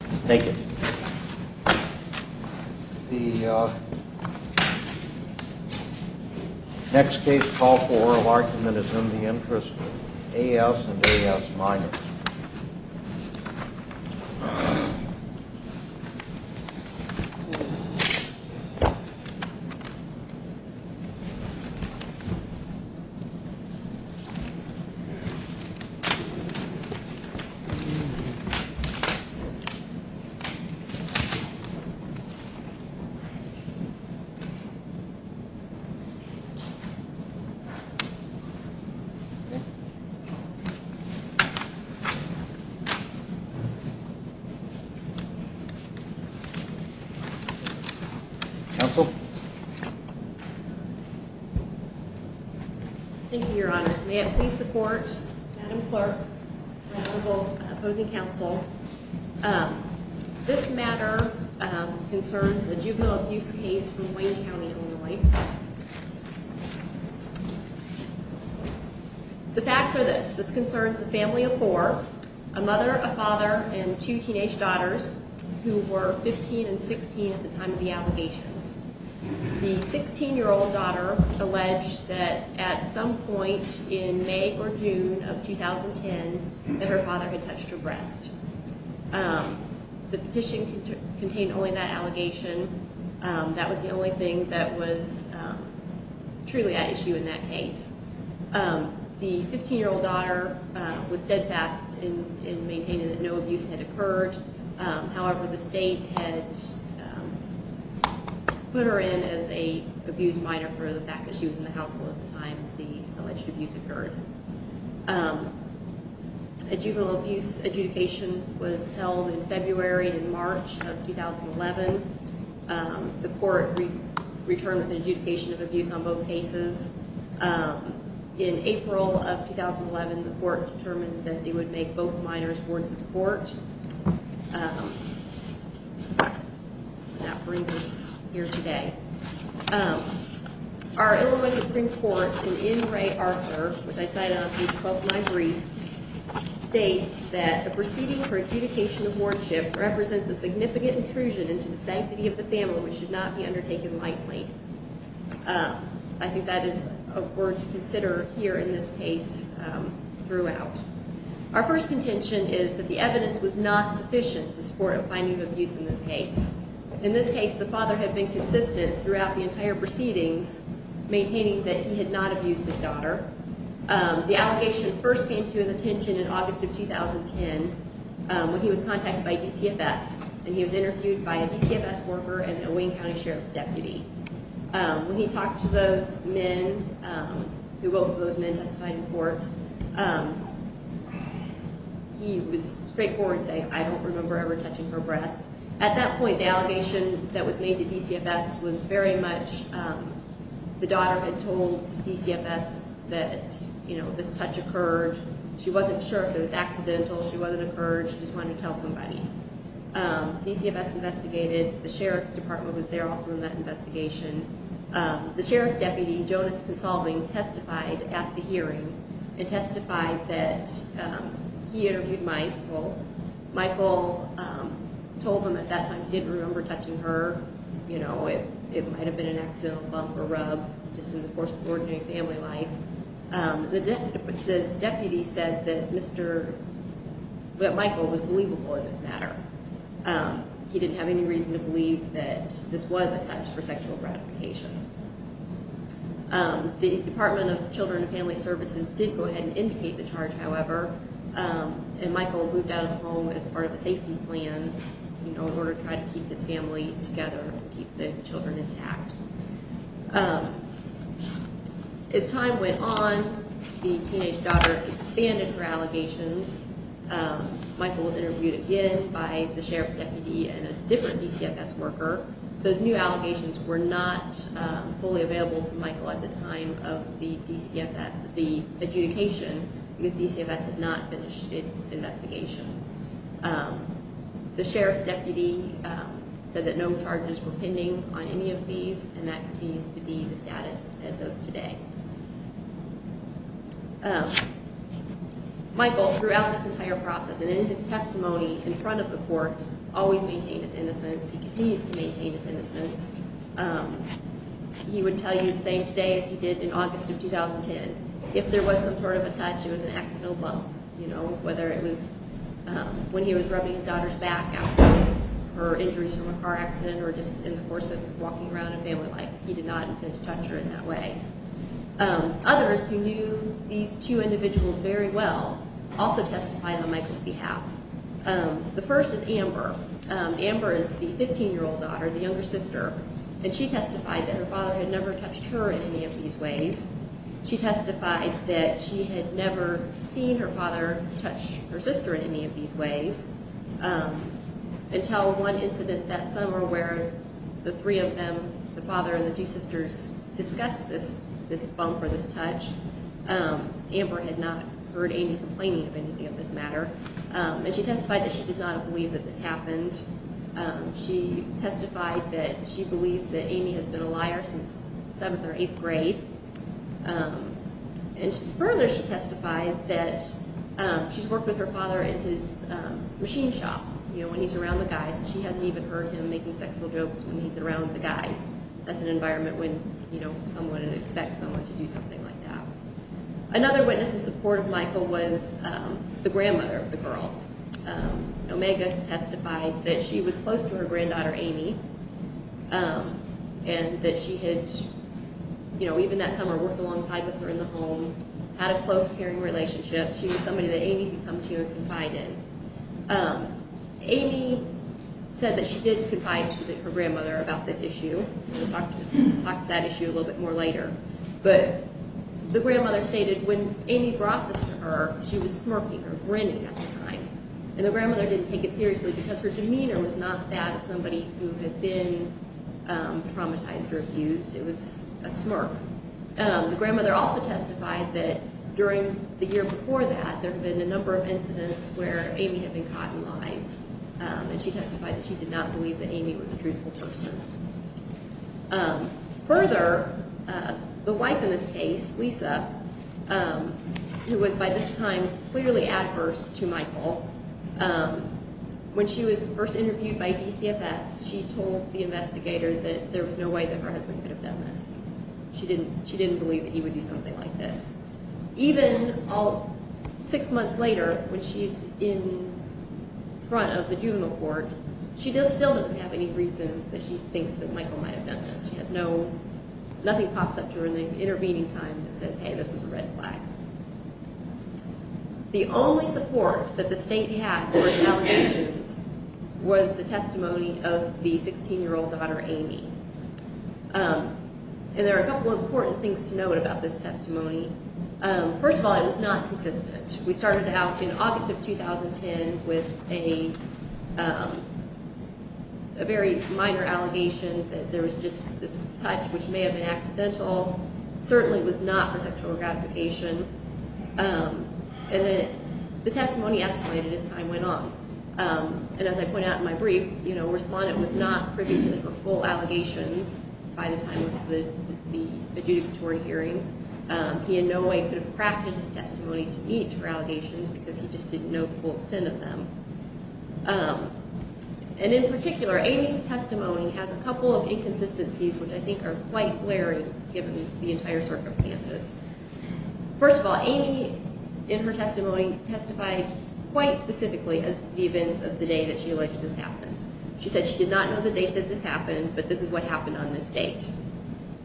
Minors. Thank you. The next case, call four, an argument in the interest of A.S. and A.S. Minors. Counsel? Thank you, Your Honors. May it please the Court, Madam Clerk, the Honorable opposing counsel, this matter concerns a juvenile abuse case from Wayne County, Illinois. The facts are this. This concerns a family of four, a mother, a father, and two teenage daughters who were 15 and 16 at the time of the allegations. The 16-year-old daughter alleged that at some point in May or June of 2010 that her father had touched her breast. The petition contained only that allegation. That was the only thing that was truly at issue in that case. The 15-year-old daughter was steadfast in maintaining that no abuse had occurred. However, the state had put her in as an abuse minor for the fact that she was in the household at the time the alleged abuse occurred. A juvenile abuse adjudication was held in February and March of 2011. The Court returned with an adjudication of abuse on both cases. In April of 2011, the Court determined that it would make both minors wards of the Court. That brings us here today. Our Illinois Supreme Court, in N. Ray Arthur, which I cited on page 12 of my brief, states that the proceeding for adjudication of wardship represents a significant intrusion into the sanctity of the family which should not be undertaken lightly. I think that is a word to consider here in this case throughout. Our first contention is that the evidence was not sufficient to support a finding of abuse in this case. In this case, the father had been consistent throughout the entire proceedings, maintaining that he had not abused his daughter. The allegation first came to his attention in August of 2010 when he was contacted by DCFS and he was interviewed by a DCFS worker and a Wayne County Sheriff's deputy. When he talked to those men, both of those men testified in court, he was straightforward saying, I don't remember ever touching her breast. At that point, the allegation that was made to DCFS was very much the daughter had told DCFS that this touch occurred. She wasn't sure if it was accidental. She wasn't encouraged. She just wanted to tell somebody. DCFS investigated. The Sheriff's Department was there also in that investigation. The Sheriff's deputy, Jonas Consolving, testified at the hearing and testified that he interviewed Michael. Michael told him at that time he didn't remember touching her. It might have been an accidental bump or rub just in the course of ordinary family life. The deputy said that Michael was believable in this matter. He didn't have any reason to believe that this was a touch for sexual gratification. The Department of Children and Family Services did go ahead and indicate the charge, however, and Michael moved out of the home as part of a safety plan in order to try to keep his children intact. As time went on, the teenage daughter expanded her allegations. Michael was interviewed again by the Sheriff's deputy and a different DCFS worker. Those new allegations were not fully available to Michael at the time of the adjudication because DCFS had not finished its investigation. The Sheriff's deputy said that no charges were pending on any of these and that continues to be the status as of today. Michael, throughout this entire process and in his testimony in front of the court, always maintained his innocence. He continues to maintain his innocence. He would tell you the same today as he did in August of 2010. He said that if there was some sort of a touch, it was an accidental bump, whether it was when he was rubbing his daughter's back after her injuries from a car accident or just in the course of walking around in family life. He did not intend to touch her in that way. Others who knew these two individuals very well also testified on Michael's behalf. The first is Amber. Amber is the 15-year-old daughter, the younger sister, and she testified that her father had never touched her in any of these ways. She testified that she had never seen her father touch her sister in any of these ways until one incident that summer where the three of them, the father and the two sisters, discussed this bump or this touch. Amber had not heard any complaining of anything of this matter. And she testified that she does not believe that this happened. She testified that she believes that Amy has been a liar since seventh or eighth grade. And further, she testified that she's worked with her father in his machine shop, you know, when he's around the guys, and she hasn't even heard him making sexual jokes when he's around the guys. That's an environment when, you know, someone would expect someone to do something like that. Omega testified that she was close to her granddaughter Amy and that she had, you know, even that summer worked alongside with her in the home, had a close, caring relationship. She was somebody that Amy could come to and confide in. Amy said that she did confide to her grandmother about this issue. We'll talk about that issue a little bit more later. But the grandmother stated when Amy brought this to her, she was smirking or grinning at the time. And the grandmother didn't take it seriously because her demeanor was not that of somebody who had been traumatized or abused. It was a smirk. The grandmother also testified that during the year before that, there had been a number of incidents where Amy had been caught in lies. And she testified that she did not believe that Amy was a truthful person. Further, the wife in this case, Lisa, who was by this time clearly adverse to Michael, when she was first interviewed by DCFS, she told the investigator that there was no way that her husband could have done this. She didn't believe that he would do something like this. Even six months later, when she's in front of the juvenile court, she still doesn't have any reason that she thinks that Michael might have done this. Nothing pops up to her in the intervening time that says, hey, this was a red flag. The only support that the state had for the allegations was the testimony of the 16-year-old daughter, Amy. And there are a couple of important things to note about this testimony. First of all, it was not consistent. We started out in August of 2010 with a very minor allegation that there was just this touch which may have been accidental. Certainly it was not for sexual gratification. And then the testimony escalated as time went on. And as I point out in my brief, you know, a respondent was not privy to the full allegations by the time of the adjudicatory hearing. He in no way could have crafted his testimony to meet her allegations because he just didn't know the full extent of them. And in particular, Amy's testimony has a couple of inconsistencies which I think are quite glaring given the entire circumstances. First of all, Amy in her testimony testified quite specifically as to the events of the day that she alleged this happened. She said she did not know the date that this happened, but this is what happened on this date.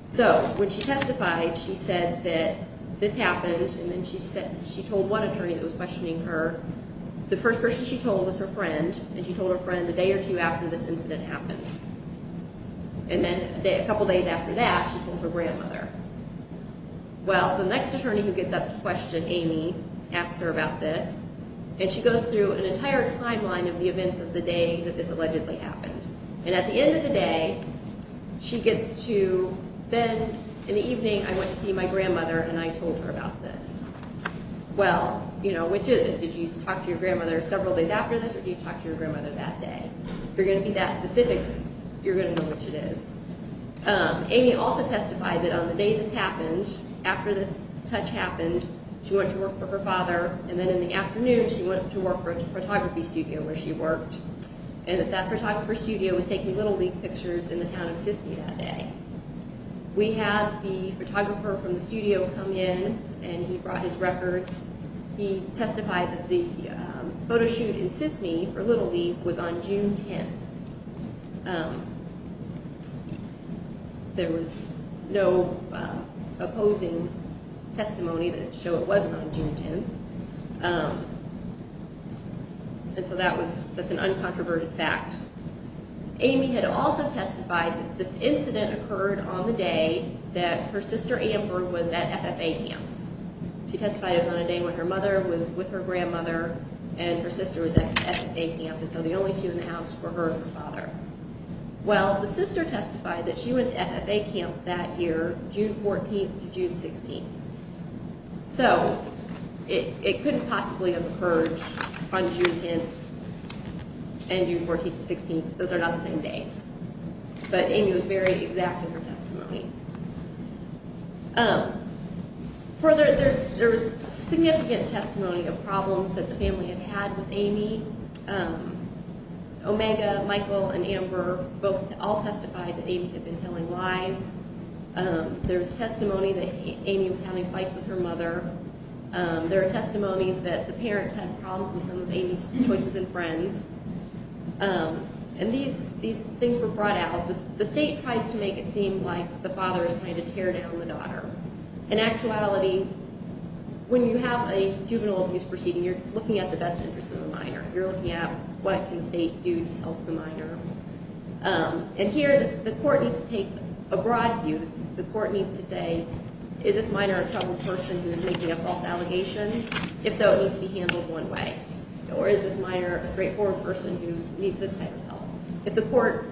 So when she testified, she said that this happened and then she told one attorney that was questioning her. The first person she told was her friend, and she told her friend a day or two after this incident happened. And then a couple days after that, she told her grandmother. Well, the next attorney who gets up to question Amy asks her about this, and she goes through an entire timeline of the events of the day that this allegedly happened. And at the end of the day, she gets to, then in the evening I went to see my grandmother and I told her about this. Well, you know, which is it? Did you talk to your grandmother several days after this or did you talk to your grandmother that day? If you're going to be that specific, you're going to know which it is. Amy also testified that on the day this happened, after this touch happened, she went to work for her father, and then in the afternoon she went to work for a photography studio where she worked. And that that photographer's studio was taking Little League pictures in the town of Sisney that day. We had the photographer from the studio come in and he brought his records. He testified that the photo shoot in Sisney for Little League was on June 10th. There was no opposing testimony to show it wasn't on June 10th. And so that's an uncontroverted fact. Amy had also testified that this incident occurred on the day that her sister Amber was at FFA camp. She testified it was on a day when her mother was with her grandmother and her sister was at FFA camp, and so the only two in the house were her and her father. Well, the sister testified that she went to FFA camp that year, June 14th to June 16th. So it couldn't possibly have occurred on June 10th and June 14th and 16th. Those are not the same days. But Amy was very exact in her testimony. Further, there was significant testimony of problems that the family had had with Amy. Omega, Michael, and Amber all testified that Amy had been telling lies. There was testimony that Amy was having fights with her mother. There was testimony that the parents had problems with some of Amy's choices in friends. And these things were brought out. The state tries to make it seem like the father is trying to tear down the daughter. In actuality, when you have a juvenile abuse proceeding, you're looking at the best interest of the minor. And here the court needs to take a broad view. The court needs to say, is this minor a troubled person who is making a false allegation? If so, it needs to be handled one way. Or is this minor a straightforward person who needs this kind of help? If the court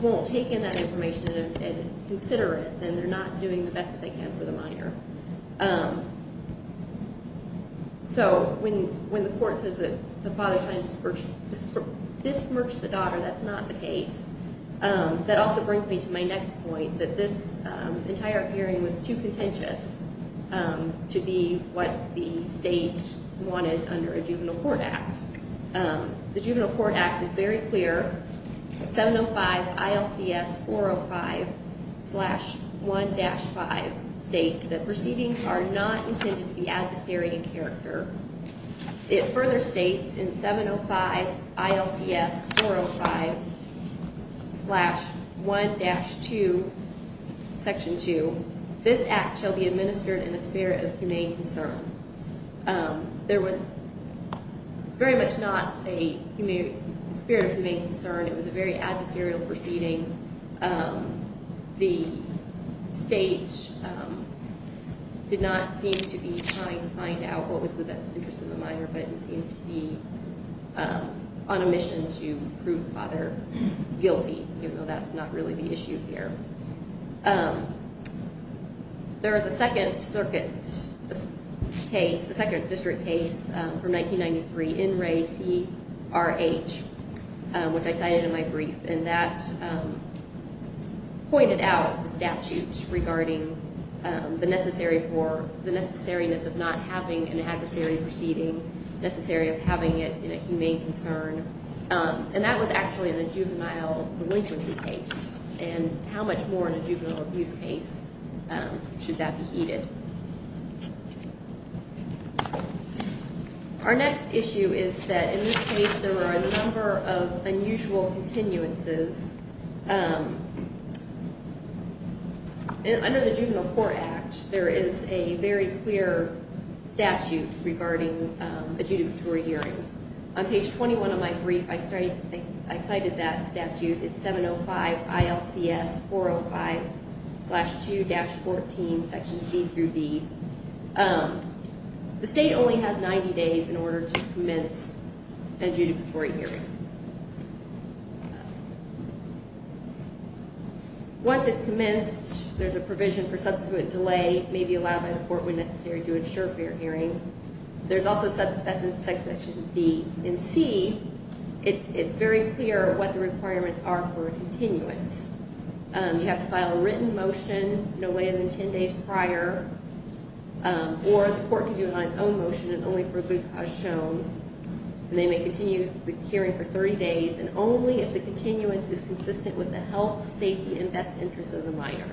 won't take in that information and consider it, then they're not doing the best that they can for the minor. So when the court says that the father is trying to disperse the daughter, that's not the case. That also brings me to my next point, that this entire hearing was too contentious to be what the state wanted under a Juvenile Court Act. The Juvenile Court Act is very clear. 705 ILCS 405-1-5 states that proceedings are not intended to be adversary in character. It further states in 705 ILCS 405-1-2, Section 2, this act shall be administered in a spirit of humane concern. There was very much not a spirit of humane concern. It was a very adversarial proceeding. The state did not seem to be trying to find out what was the best interest of the minor, but it seemed to be on a mission to prove the father guilty, even though that's not really the issue here. There is a second circuit case, a second district case from 1993, NRAE-CRH, which I cited in my brief, and that pointed out the statute regarding the necessary for, the necessariness of not having an adversary proceeding, necessary of having it in a humane concern, and that was actually in a juvenile delinquency case, and how much more in a juvenile abuse case should that be heeded. Our next issue is that in this case there were a number of unusual continuances. Under the Juvenile Court Act, there is a very clear statute regarding adjudicatory hearings. On page 21 of my brief, I cited that statute. It's 705 ILCS 405-2-14, sections B through D. The state only has 90 days in order to commence an adjudicatory hearing. Once it's commenced, there's a provision for subsequent delay, may be allowed by the court when necessary to ensure fair hearing. There's also, that's in section B. In C, it's very clear what the requirements are for a continuance. You have to file a written motion no later than 10 days prior, or the court can do it on its own motion and only for a good cause shown, and they may continue the hearing for 30 days, and only if the continuance is consistent with the health, safety, and best interests of the minor.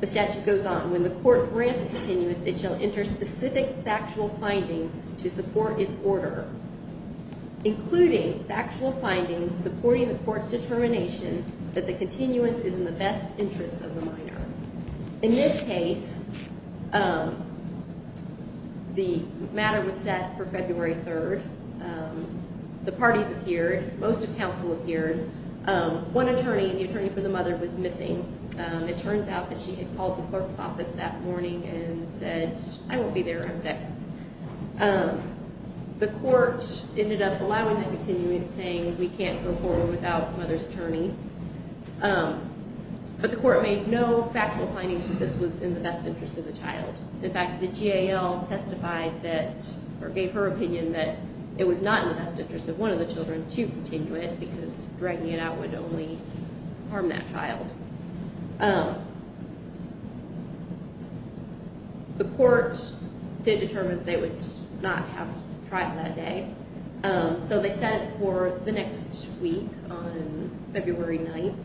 The statute goes on. When the court grants a continuance, it shall enter specific factual findings to support its order, including factual findings supporting the court's determination that the continuance is in the best interests of the minor. In this case, the matter was set for February 3rd. The parties appeared. Most of counsel appeared. It turns out that she had called the clerk's office that morning and said, I won't be there, I'm sick. The court ended up allowing the continuance, saying, we can't go forward without the mother's attorney. But the court made no factual findings that this was in the best interest of the child. In fact, the GAL testified that, or gave her opinion, that it was not in the best interest of one of the children to continue it, because dragging it out would only harm that child. The court did determine that they would not have trial that day, so they set it for the next week on February 9th.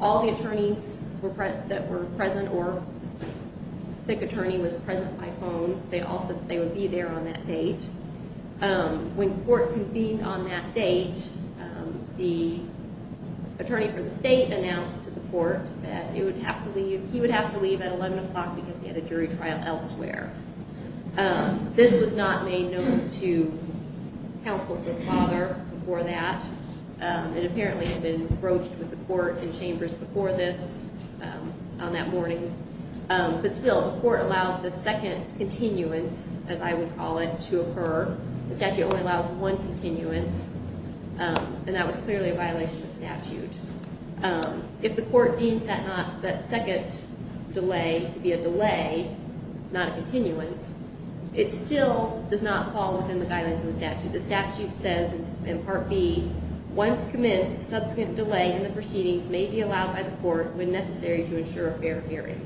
All the attorneys that were present, or the sick attorney was present by phone, they all said that they would be there on that date. When court convened on that date, the attorney for the state announced to the court that it would have to leave, he would have to leave at 11 o'clock because he had a jury trial elsewhere. This was not made known to counsel for the father before that. It apparently had been broached with the court and chambers before this on that morning. But still, the court allowed the second continuance, as I would call it, to occur. The statute only allows one continuance, and that was clearly a violation of statute. If the court deems that second delay to be a delay, not a continuance, it still does not fall within the guidance of the statute. The statute says in Part B, Once commenced, subsequent delay in the proceedings may be allowed by the court when necessary to ensure a fair hearing.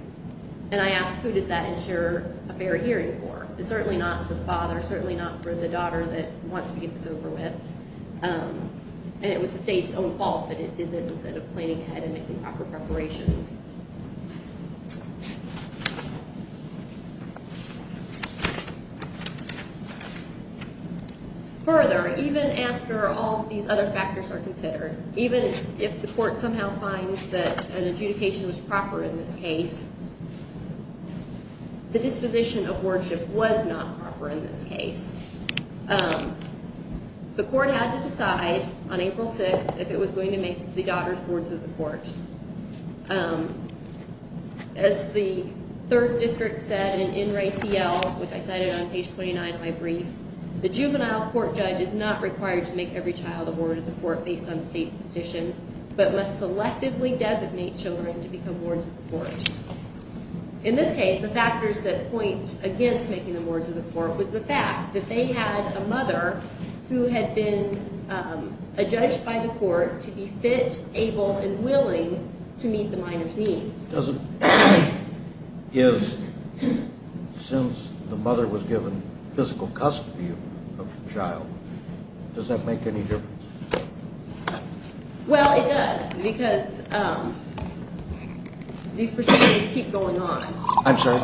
And I ask, who does that ensure a fair hearing for? It's certainly not for the father, certainly not for the daughter that wants to get this over with. And it was the state's own fault that it did this instead of planning ahead and making proper preparations. Further, even after all these other factors are considered, even if the court somehow finds that an adjudication was proper in this case, the disposition of worship was not proper in this case. The court had to decide on April 6th if it was going to make the daughter's words of the court. As the third district said in NRACL, which I cited on page 29 of my brief, the juvenile court judge is not required to make every child a word of the court based on the state's petition, but must selectively designate children to become words of the court. In this case, the factors that point against making them words of the court was the fact that they had a mother who had been adjudged by the court to be fit, able, and willing to meet the minor's needs. Since the mother was given physical custody of the child, does that make any difference? Well, it does, because these proceedings keep going on. I'm sorry?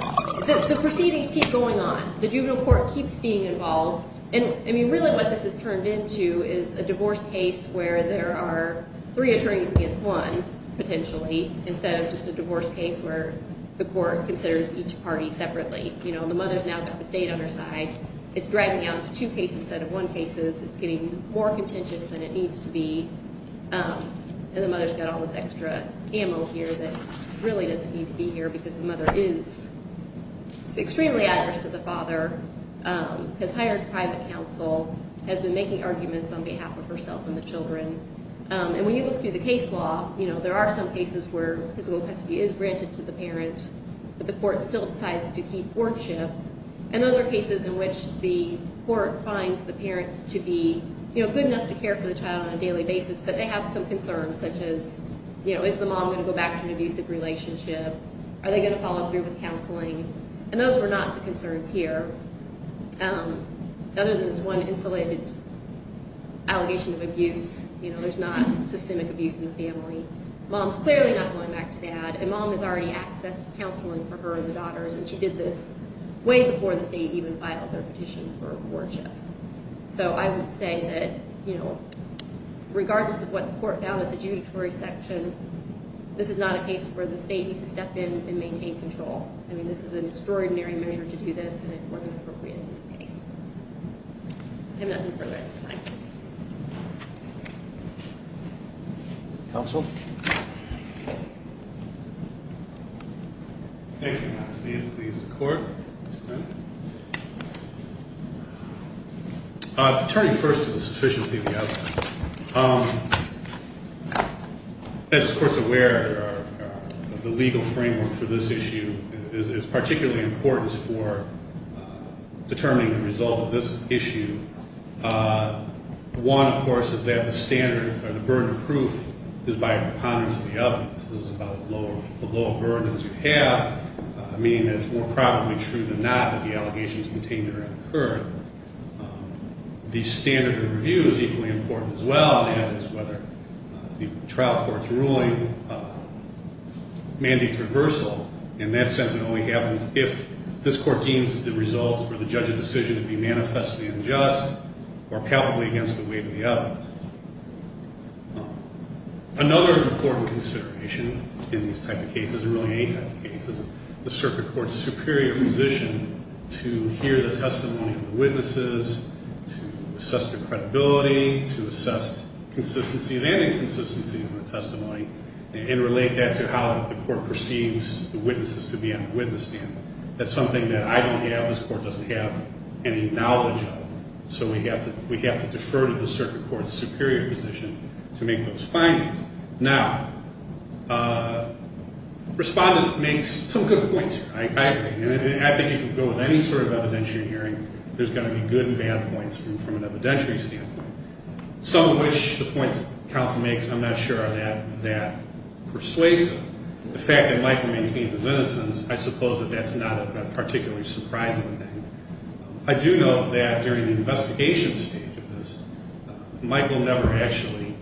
The proceedings keep going on. The juvenile court keeps being involved. Really what this has turned into is a divorce case where there are three attorneys against one, potentially, instead of just a divorce case where the court considers each party separately. The mother's now got the state on her side. It's dragging out to two cases instead of one cases. It's getting more contentious than it needs to be. And the mother's got all this extra ammo here that really doesn't need to be here because the mother is extremely adverse to the father, has hired private counsel, has been making arguments on behalf of herself and the children. And when you look through the case law, there are some cases where physical custody is granted to the parent, but the court still decides to keep wardship. And those are cases in which the court finds the parents to be good enough to care for the child on a daily basis, but they have some concerns such as, is the mom going to go back to an abusive relationship? Are they going to follow through with counseling? And those were not the concerns here. Other than this one insulated allegation of abuse, there's not systemic abuse in the family. Mom's clearly not going back to dad, and mom has already accessed counseling for her and the daughters, and she did this way before the state even filed their petition for wardship. So I would say that, you know, regardless of what the court found at the judiciary section, this is not a case where the state needs to step in and maintain control. I mean, this is an extraordinary measure to do this, and it wasn't appropriate in this case. If you have nothing further, that's fine. Counsel? Thank you, Ma'am. Please, the court. Turning first to the sufficiency of the outline. As the court's aware, the legal framework for this issue is particularly important for determining the result of this issue. One, of course, is that the standard or the burden of proof is by a preponderance of the evidence. This is about as low a burden as you have, meaning that it's more probably true than not that the allegations contained therein occur. The standard of review is equally important as well, and it's whether the trial court's ruling mandates reversal. In that sense, it only happens if this court deems the results for the judge's decision to be manifestly unjust or palpably against the weight of the evidence. Another important consideration in these type of cases, and really any type of case, is the circuit court's superior position to hear the testimony of the witnesses, to assess their credibility, to assess consistencies and inconsistencies in the testimony, and relate that to how the court perceives the witnesses to be on the witness stand. That's something that I don't have, this court doesn't have any knowledge of, so we have to defer to the circuit court's superior position to make those findings. Now, Respondent makes some good points here. I agree. I think if you go with any sort of evidentiary hearing, there's going to be good and bad points from an evidentiary standpoint. Some of which, the points the counsel makes, I'm not sure are that persuasive. The fact that Michael maintains his innocence, I suppose that that's not a particularly surprising thing. I do note that during the investigation stage of this, Michael never actually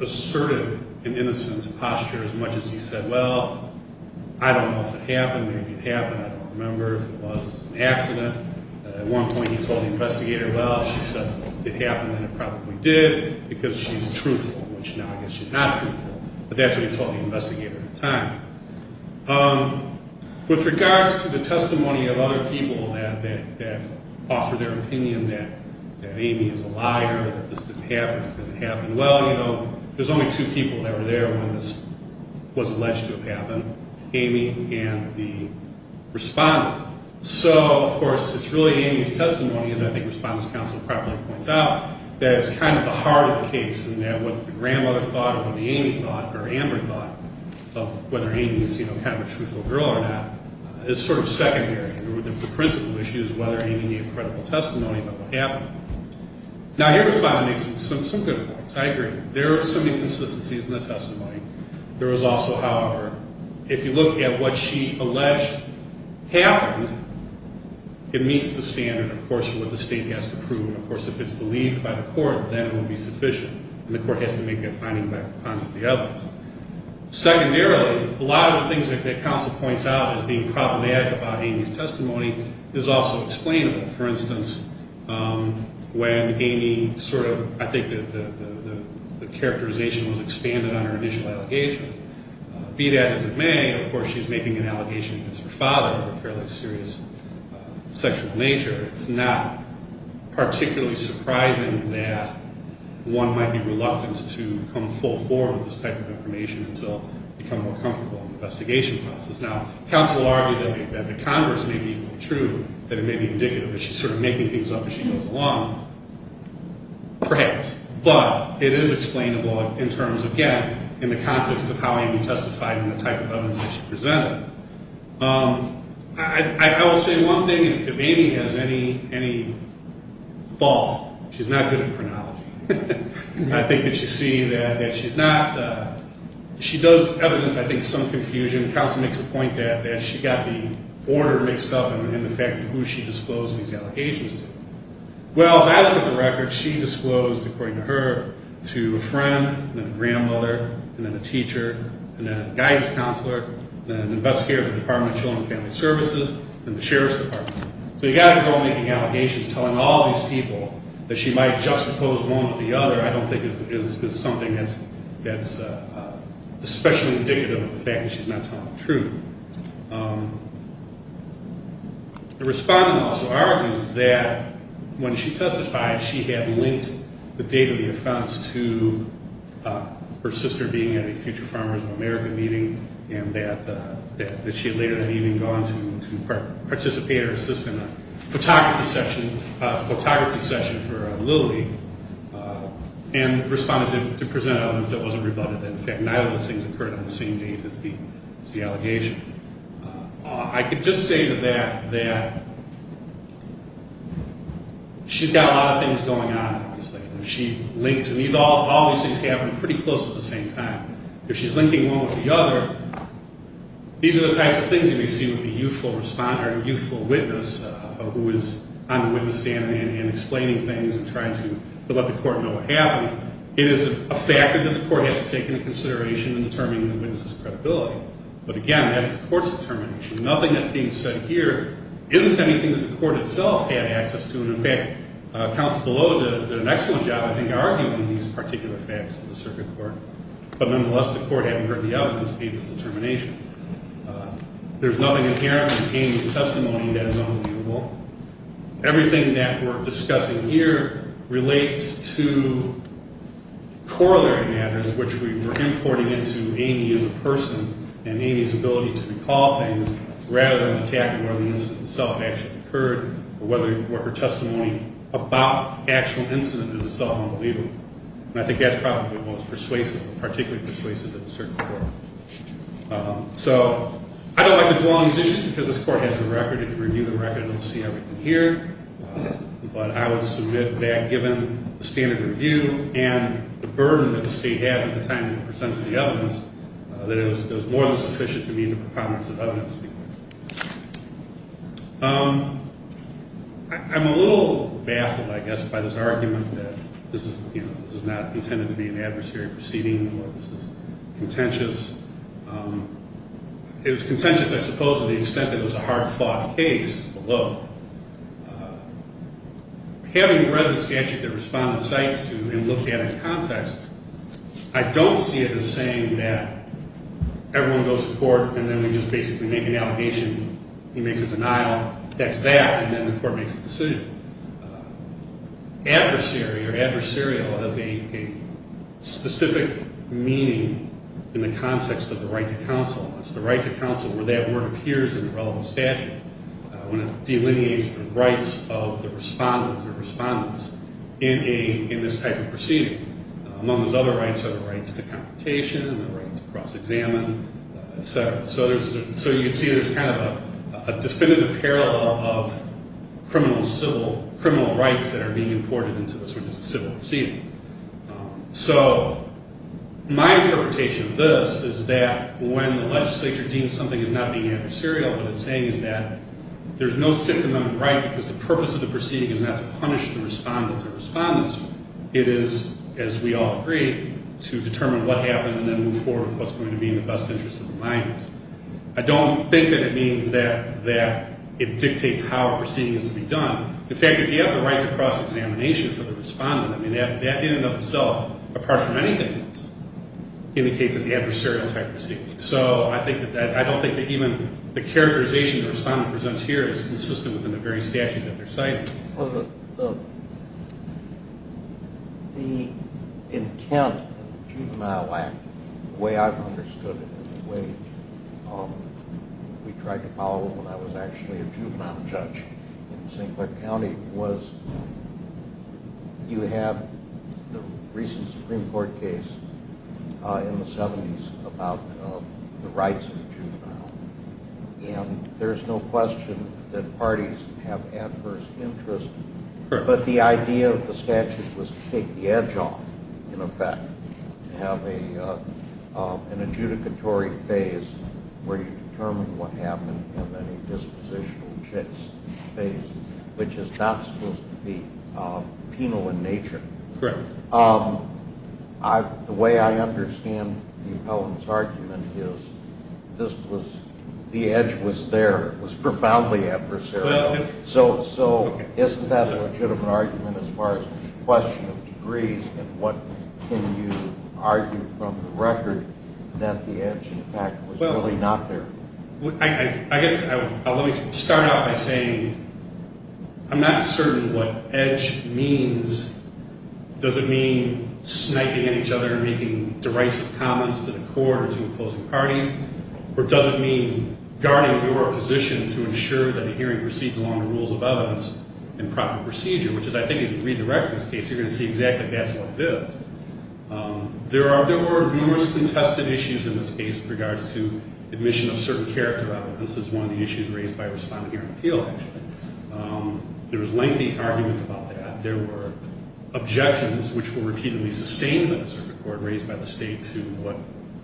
asserted an innocence posture as much as he said, I don't know if it happened, maybe it happened, I don't remember if it was an accident. At one point he told the investigator, well, if she says it happened, then it probably did, because she's truthful, which now I guess she's not truthful. But that's what he told the investigator at the time. With regards to the testimony of other people that offered their opinion that Amy is a liar, that this didn't happen, it didn't happen well, there's only two people that were there when this was alleged to have happened, Amy and the respondent. So, of course, it's really Amy's testimony, as I think Respondent's counsel probably points out, that it's kind of the heart of the case and that what the grandmother thought or what Amy thought or Amber thought of whether Amy's kind of a truthful girl or not is sort of secondary. The principle issue is whether Amy made a credible testimony about what happened. Now, your respondent makes some good points, I agree. There are some inconsistencies in the testimony. There is also, however, if you look at what she alleged happened, it meets the standard, of course, for what the state has to prove. And, of course, if it's believed by the court, then it would be sufficient, and the court has to make that finding back upon the evidence. Secondarily, a lot of the things that counsel points out as being problematic about Amy's testimony is also explainable. For instance, when Amy sort of... the characterization was expanded on her initial allegations. Be that as it may, of course, she's making an allegation against her father of a fairly serious sexual nature. It's not particularly surprising that one might be reluctant to come full form with this type of information until you become more comfortable in the investigation process. Now, counsel argued that the converse may be true, that it may be indicative that she's sort of making things up as she goes along. Perhaps. But it is explainable in terms of, again, in the context of how Amy testified and the type of evidence that she presented. I will say one thing. If Amy has any fault, she's not good at chronology. I think that you see that she's not... She does evidence, I think, some confusion. Counsel makes a point that she got the order mixed up in the fact of who she disclosed these allegations to. Well, as I look at the record, she disclosed, according to her, to a friend, then a grandmother, and then a teacher, and then a guidance counselor, then an investigator of the Department of Children and Family Services, and the Sheriff's Department. So you've got a girl making allegations, telling all these people that she might juxtapose one with the other, I don't think is something that's especially indicative of the fact that she's not telling the truth. The respondent also argues that when she testified, she had linked the date of the offense to her sister being at a Future Farmers of America meeting, and that she had later that evening gone to participate, or assist in a photography session for Lily, and responded to present evidence that wasn't rebutted. In fact, neither of those things occurred on the same date as the allegation. I could just say to that, that she's got a lot of things going on, obviously. She links, and all these things happen pretty close at the same time. If she's linking one with the other, these are the types of things you may see with a youthful witness who is on the witness stand and explaining things and trying to let the court know what happened. It is a factor that the court has to take into consideration in determining the witness's credibility. But again, that's the court's determination. Nothing that's being said here isn't anything that the court itself had access to, and in fact, counsel below did an excellent job I think arguing these particular facts in the circuit court. But nonetheless, the court, having heard the evidence, made this determination. There's nothing inherent in Amy's testimony that is unremovable. Everything that we're discussing here relates to corollary matters, which we were importing into Amy as a person, and Amy's ability to recall things rather than attacking whether the incident itself actually occurred, or whether her testimony about the actual incident is itself unbelievable. And I think that's probably what was persuasive, or particularly persuasive, in the circuit court. So, I don't like to dwell on these issues because this court has the record. If you review the record, you'll see everything here. But I would submit that given the standard review and the burden that the state has at the time it presents the evidence, that it was more than sufficient to meet the preponderance of evidence. I'm a little baffled, I guess, by this argument that this is not intended to be an adversary proceeding, or this is contentious. It was contentious, I suppose, to the extent that it was a hard-fought case, although, having read the statute that Respondent cites, and looked at it in context, I don't see it as saying that everyone goes to court and then we just basically make an allegation, he makes a denial, that's that, and then the court makes a decision. Adversary, or adversarial, has a specific meaning in the context of the right to counsel. It's the right to counsel where that word appears in the relevant statute, when it delineates the rights of the Respondent or Respondents in this type of proceeding. Among those other rights are the rights to confrontation, and the rights to cross-examine, et cetera. So you can see there's kind of a definitive parallel of criminal rights that are being imported into a civil proceeding. My interpretation of this is that when the legislature deems something as not being adversarial, what it's saying is that there's no Sixth Amendment right because the purpose of the proceeding is not to punish the Respondent or Respondents, it is, as we all agree, to determine what happened and then move forward with what's going to be in the best interest of the mind. I don't think that it means that it dictates how a proceeding is to be done. In fact, if you have the right to cross-examination for the Respondent, that in and of itself, apart from anything else, indicates that the adversarial type of proceeding. So I don't think that even the characterization the Respondent presents here is consistent within the very statute that they're citing. The intent of the Juvenile Act, the way I've understood it, the way we tried to follow it when I was actually a juvenile judge in St. Clair County, was you have the recent Supreme Court case in the 70s about the rights of the juvenile. And there's no question that parties have an adverse interest. But the idea of the statute was to take the edge off, in effect, to have an adjudicatory phase where you determine what happened and then a dispositional phase, which is not supposed to be penal in nature. The way I understand the Appellant's argument is the edge was there. It was profoundly adversarial. So isn't that a legitimate argument as far as the question of degrees and what can you argue from the record that the edge, in fact, was really not there? I guess let me start out by saying I'm not certain what edge means. Does it mean sniping at each other and making derisive comments to the court or to opposing parties? Or does it mean guarding your position to ensure that the hearing proceeds along the rules of evidence and proper procedure, which is, I think, if you read the record of this case, you're going to see exactly that's what it is. There were numerous contested issues in this case with regards to admission of certain character evidence. This is one of the issues raised by Respondent Hearing Appeal. There was lengthy argument about that. There were objections, which were repeatedly sustained by the Circuit Court raised by the State to what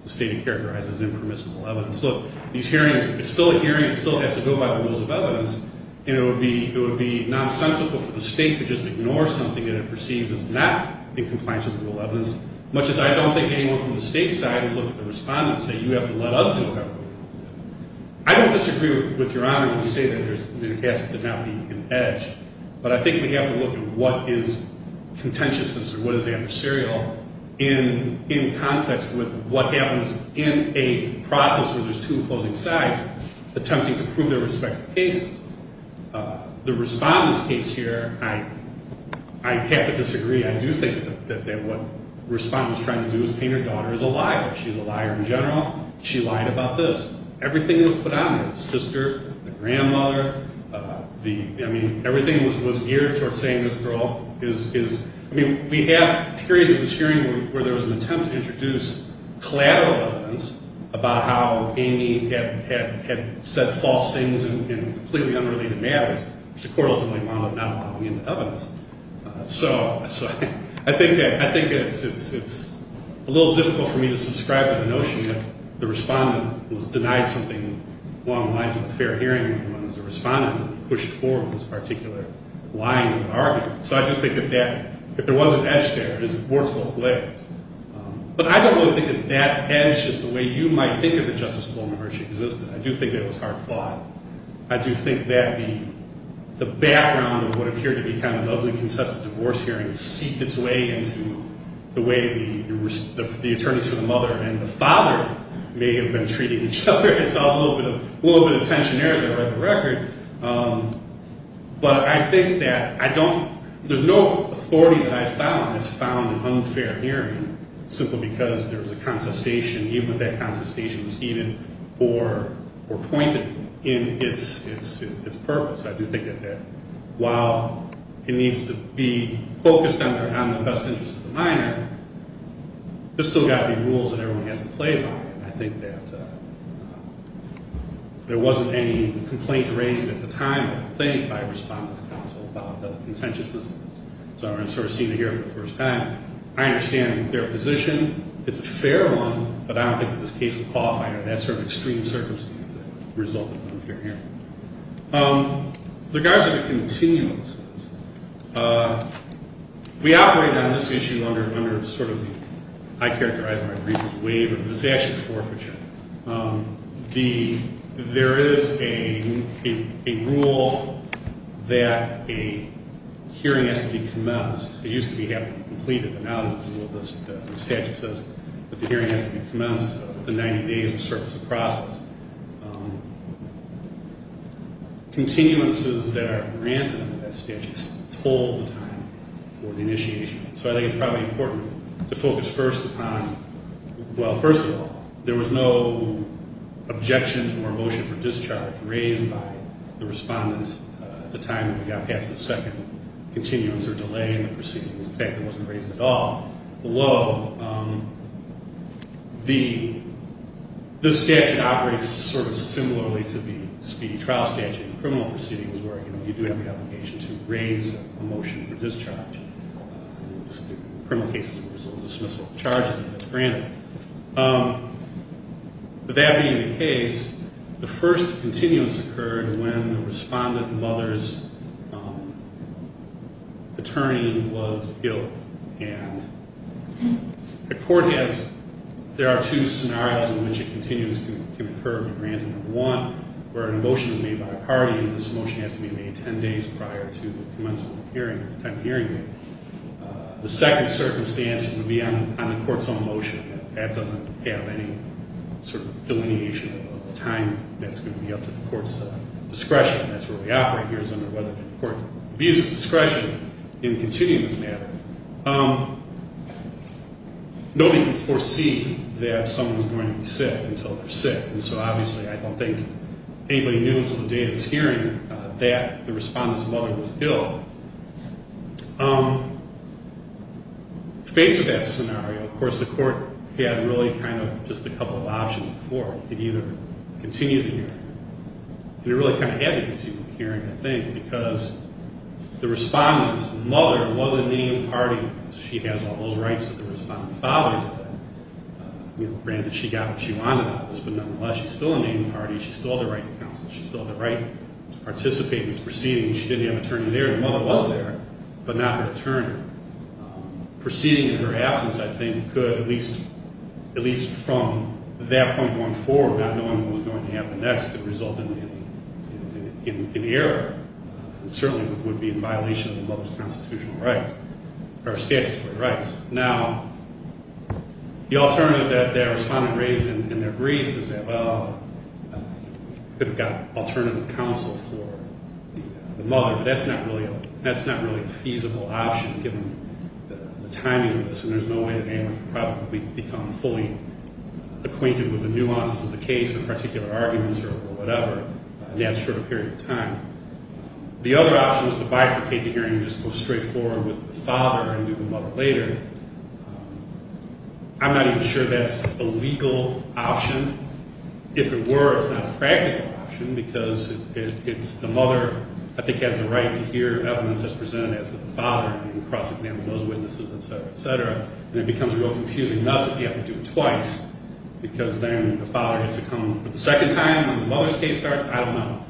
the State characterizes as impermissible evidence. Look, these hearings, it's still a hearing. It still has to go by the rules of evidence. And it would be nonsensical for the State to just ignore something that it perceives as not in compliance with the rule of evidence, much as I don't think anyone from the State's side would look at the Respondent and say you have to let us do whatever we want. I don't disagree with Your Honor when you say that there has to not be an edge. But I think we have to look at what is contentiousness or what is adversarial in context with what happens in a process where there's two opposing sides attempting to prove their respective cases. The Respondent's case here, I have to disagree. I do think that what the Respondent was trying to do was paint her daughter as a liar. She's a liar in general. She lied about this. Everything that was put on her, the sister, the grandmother, I mean, everything that was geared towards saying this girl is, I mean, we have periods of this hearing where there was an attempt to introduce collateral evidence about how Amy had said false things in completely unrelated matters, which the Court ultimately wound up not allowing into evidence. So I think it's a little difficult for me to subscribe to the notion that the Respondent was denied something along the lines of a fair hearing when the Respondent pushed forward this particular lying argument. So I just think that if there was an edge there, it works both ways. But I don't really think that that edge is the way you might think of the Justice Coleman where she existed. I do think that it was hard fought. I do think that the background of what appeared to be kind of an ugly contested divorce hearing seeped its way into the way the attorneys for the mother and the father may have been treating each other. I saw a little bit of tension there as I read the record. But I think that I don't, there's no authority that I've found that's found an unfair hearing simply because there was a contestation, even if that contestation was even more pointed in its purpose. I do think that while it needs to be focused on the best interests of the minor, there's still got to be rules that everyone has to play by. And I think that there wasn't any complaint raised at the time I think by a respondent's counsel about the contentiousness of this. So I'm sort of seeing it here for the first time. I understand their position. It's a fair one, but I don't think that this case would qualify under that sort of extreme circumstance as a result of an unfair hearing. In regards to the continuances, we operate on this issue under sort of the, I characterize it as a waiver, but it's actually forfeiture. There is a rule that a hearing has to be commenced. It used to have to be completed, but now the rule of the statute says that the hearing has to be commenced within 90 days of the service of process. Continuances that are granted under that statute told the time for the initiation. So I think it's probably important to focus first upon, well, first of all, there was no objection or motion for discharge raised by the respondent at the time that we got past the second continuance or delay in the proceedings. In fact, it wasn't raised at all. Below, the statute operates sort of similarly to the speedy trial statute. The criminal proceeding is where you do have the obligation to raise a motion for discharge. The criminal case is a result of dismissal of charges that's granted. With that being the case, the first continuance occurred when the respondent mother's attorney was ill. And the court has, there are two scenarios in which a continuance can occur at random. One, where a motion is made by a party and this motion has to be made 10 days prior to the hearing. The second circumstance would be on the court's own motion. That doesn't have any sort of delineation of time that's going to be up to the court's discretion. That's where we operate here is under whether the court abuses discretion in continuing this matter. Nobody could foresee that someone was going to be sick until they're sick. And so obviously I don't think anybody knew until the day of this hearing that the respondent's mother was ill. Faced with that scenario, of course, the court had really kind of just a couple of options before. It could either continue the hearing or it could continue the trial. Granted, she got what she wanted out of this, but nonetheless she's still a naming party. She still had the right to counsel. She still had the right to participate in this proceeding. She didn't have an attorney there. Her mother was there, but not an attorney. Proceeding in her absence, I think, could at least from that point going forward, not knowing what was going to happen next, could result in error. It certainly would be in violation of the mother's constitutional rights, or statutory rights. Now, the alternative that the respondent raised in their brief is that, well, could have gotten alternative counsel for the mother, but that's not really a feasible option given the timing of this, and there's no way that anyone could probably become fully acquainted with the nuances of the case or particular arguments or whatever in that short period of time. The other option is to bifurcate the hearing and go straight forward with the father and do the mother later. I'm not even sure that's a legal option. If it were, it's not a practical option because it's the mother, I think, has the right to hear evidence as presented as the father in the cross-examination of those witnesses, et cetera, et cetera, and it becomes a real confusing mess if you do it twice because then the father has to come in for the second time when the mother's case starts, I don't know.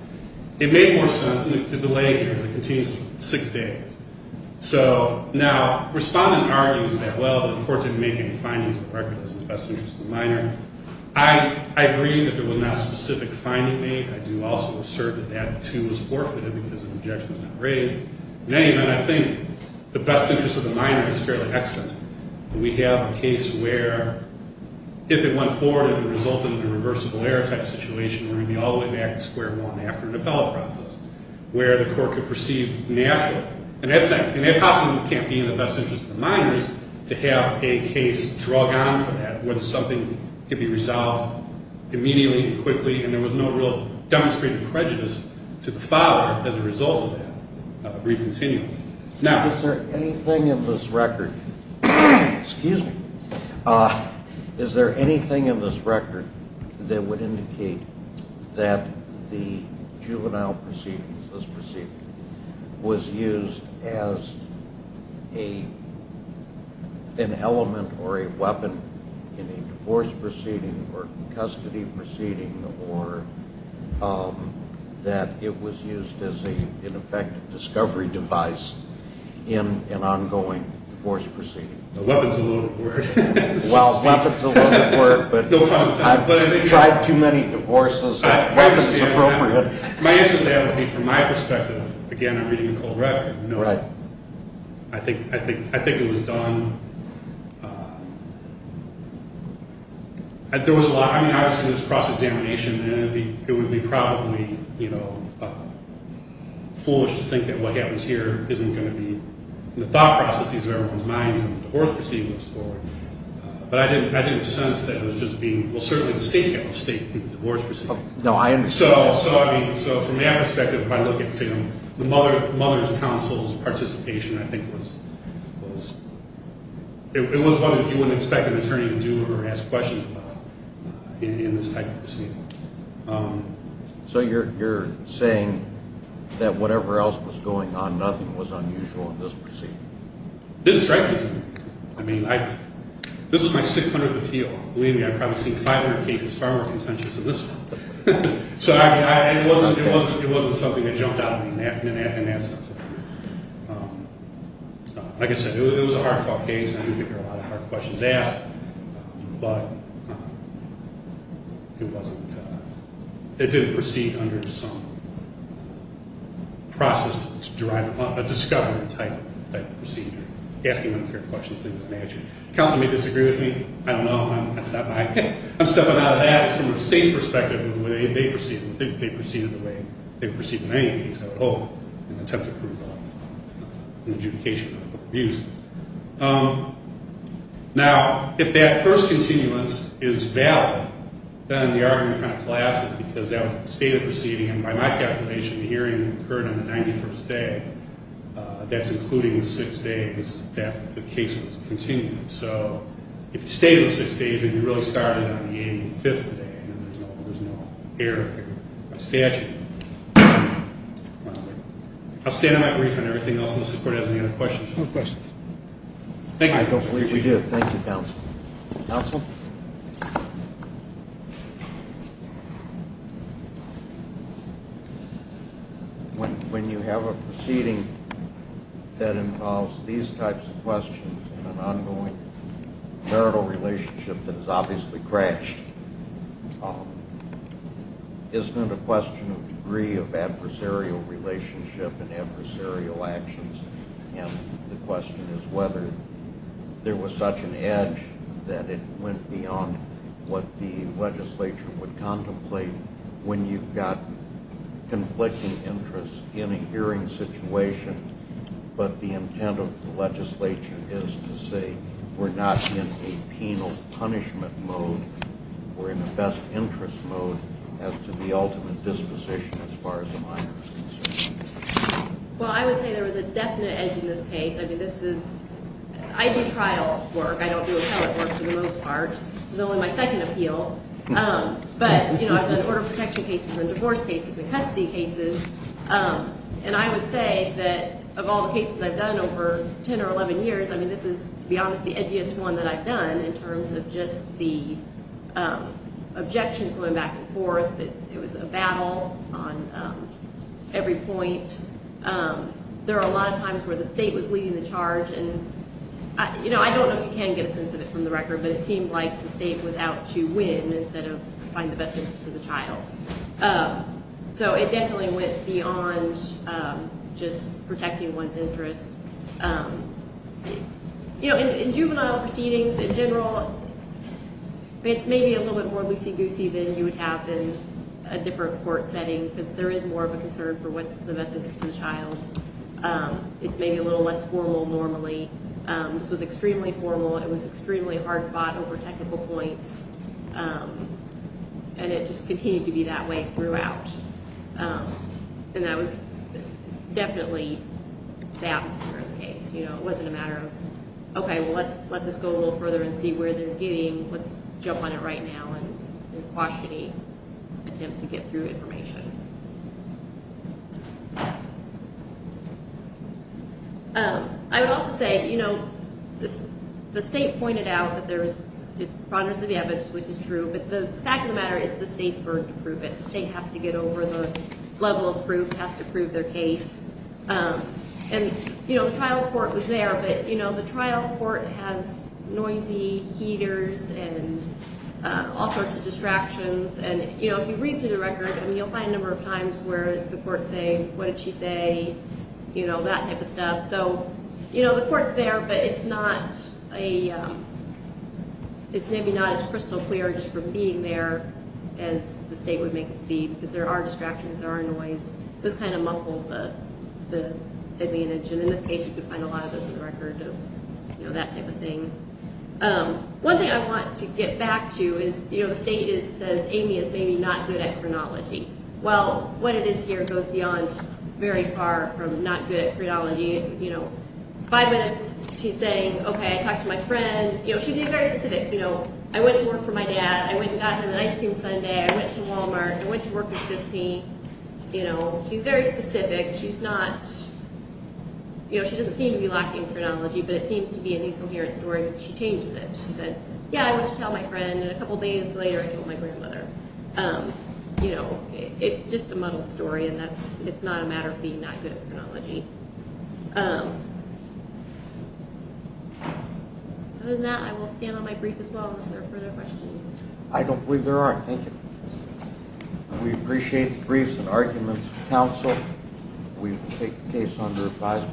It made more sense to delay the six days. So now respondent argues that well, the court didn't make any findings of the record as the best interest of the minor. I agree that there was no real demonstration of prejudice to the father as a result of that brief in this record... Excuse me. I don't have any evidence to support that. I don't have any evidence to support that. Is there anything in this record that would indicate that the juvenile proceedings, this proceeding, was used as an element or a weapon in a divorce proceeding or custody proceeding or that it was used as an effective discovery device in an ongoing divorce proceeding? The answer to that would be from my perspective. Again, I'm reading the cold record. I think it was done... There was a lot... I mean, obviously, there was cross-examination and it would be probably foolish to think that what happens here isn't going to be in the thought of what the divorce proceeding was for. But I didn't sense that it was just being... Well, certainly the state's got a state divorce proceeding. So, from my perspective, if I look at the mother's counsel's participation, I think it was what you would expect an attorney to do or ask questions about in this type of proceeding. So, you're saying that whatever else was going on, nothing was unusual in this proceeding? It didn't strike me. I mean, this is my 600th appeal. Believe me, I've probably seen 500 cases, far more contentious than this one. So, I mean, it wasn't something that jumped out in that sense. Like I said, it was a hard-fought case and I didn't think there were a lot of hard questions asked, but it didn't proceed under some process to drive a discovery that was on. I don't know if I'm stepping out of that from the state's perspective. Now, if that first continuance is valid, then the argument kind of collapses because that was the state proceeding. By my calculation, the hearing occurred on the 91st day, that's including the six days that the case was continuing. So, if you stayed in the six days and you really started on the 85th day, there's no error in the statute. I'll stay in the I don't believe there's any other questions. I don't believe we do. Thank you, counsel. Counsel? When you have a proceeding that involves these types of questions and an ongoing marital relationship and adversarial actions, and the question is whether there was such an edge that it went beyond what the legislature would contemplate when you've got conflicting interests in a hearing situation, but the intent of the legislature is to say we're not in a penal punishment mode or in a best interest mode as to the ultimate disposition as far as the minor is concerned. Well, I would say there was a definite edge in this case. I do trial work. I don't do appellate work for the most part. This is only my second appeal. But I've done order protection cases and I've seen objections going back and forth that it was a battle on every point. There are a lot of times where the state was leading the charge and, you know, I don't know if you can get a sense of it from the record, but it seemed like the state was out to win instead of finding the best interest of the child. So it definitely went beyond just protecting one's interest. You know, in juvenile proceedings, in general, it's maybe a little bit more loosey-goosey than you would have in a different court setting because there is more of a concern for what's the best interest of the child. It's maybe a little less formal normally. This was extremely formal. It was extremely hard fought over technical points, and it just continued to be that way throughout. And that was definitely the opposite of the case. You know, it wasn't a matter of, okay, well, let's let this go a little further and see where they're getting. Let's jump on it right now and quash any attempt to get through information. I would also say, you know, the State pointed out that there's progress of evidence, which is true, but the fact of the matter is the State's burden to prove it. The State has to get over the level of proof, has to prove their case. And, you know, if you read through the record, I mean, you'll find a number of times where the courts say, what did she say, you know, that type of stuff. So, you know, the court's there, but it's not a it's maybe not as crystal clear just from being there as the State would make it to be, because there are people who are not good at chronology. Well, what it is here goes beyond very far from not good at chronology, you know. Five minutes she's saying, okay, I talked to my friend, you know, she'd be very specific, you know, I went to work for my dad, I went and got him an ice cream sundae, I went to Walmart, I went to work with Sissy, you know, she's very specific, she's not, you know, she doesn't seem to be lacking in chronology, but it seems to be a new coherent story, but she changed it. She said, yeah, I went to tell my friend, and a couple days later I told my grandmother, you know, it's just a muddled story, and it's not a matter of being not good at chronology. Other than that, I will stand on my brief as well unless there are further questions. I don't believe there are, thank you. We appreciate the briefs and arguments of the council, we take the case under advisement, thank you.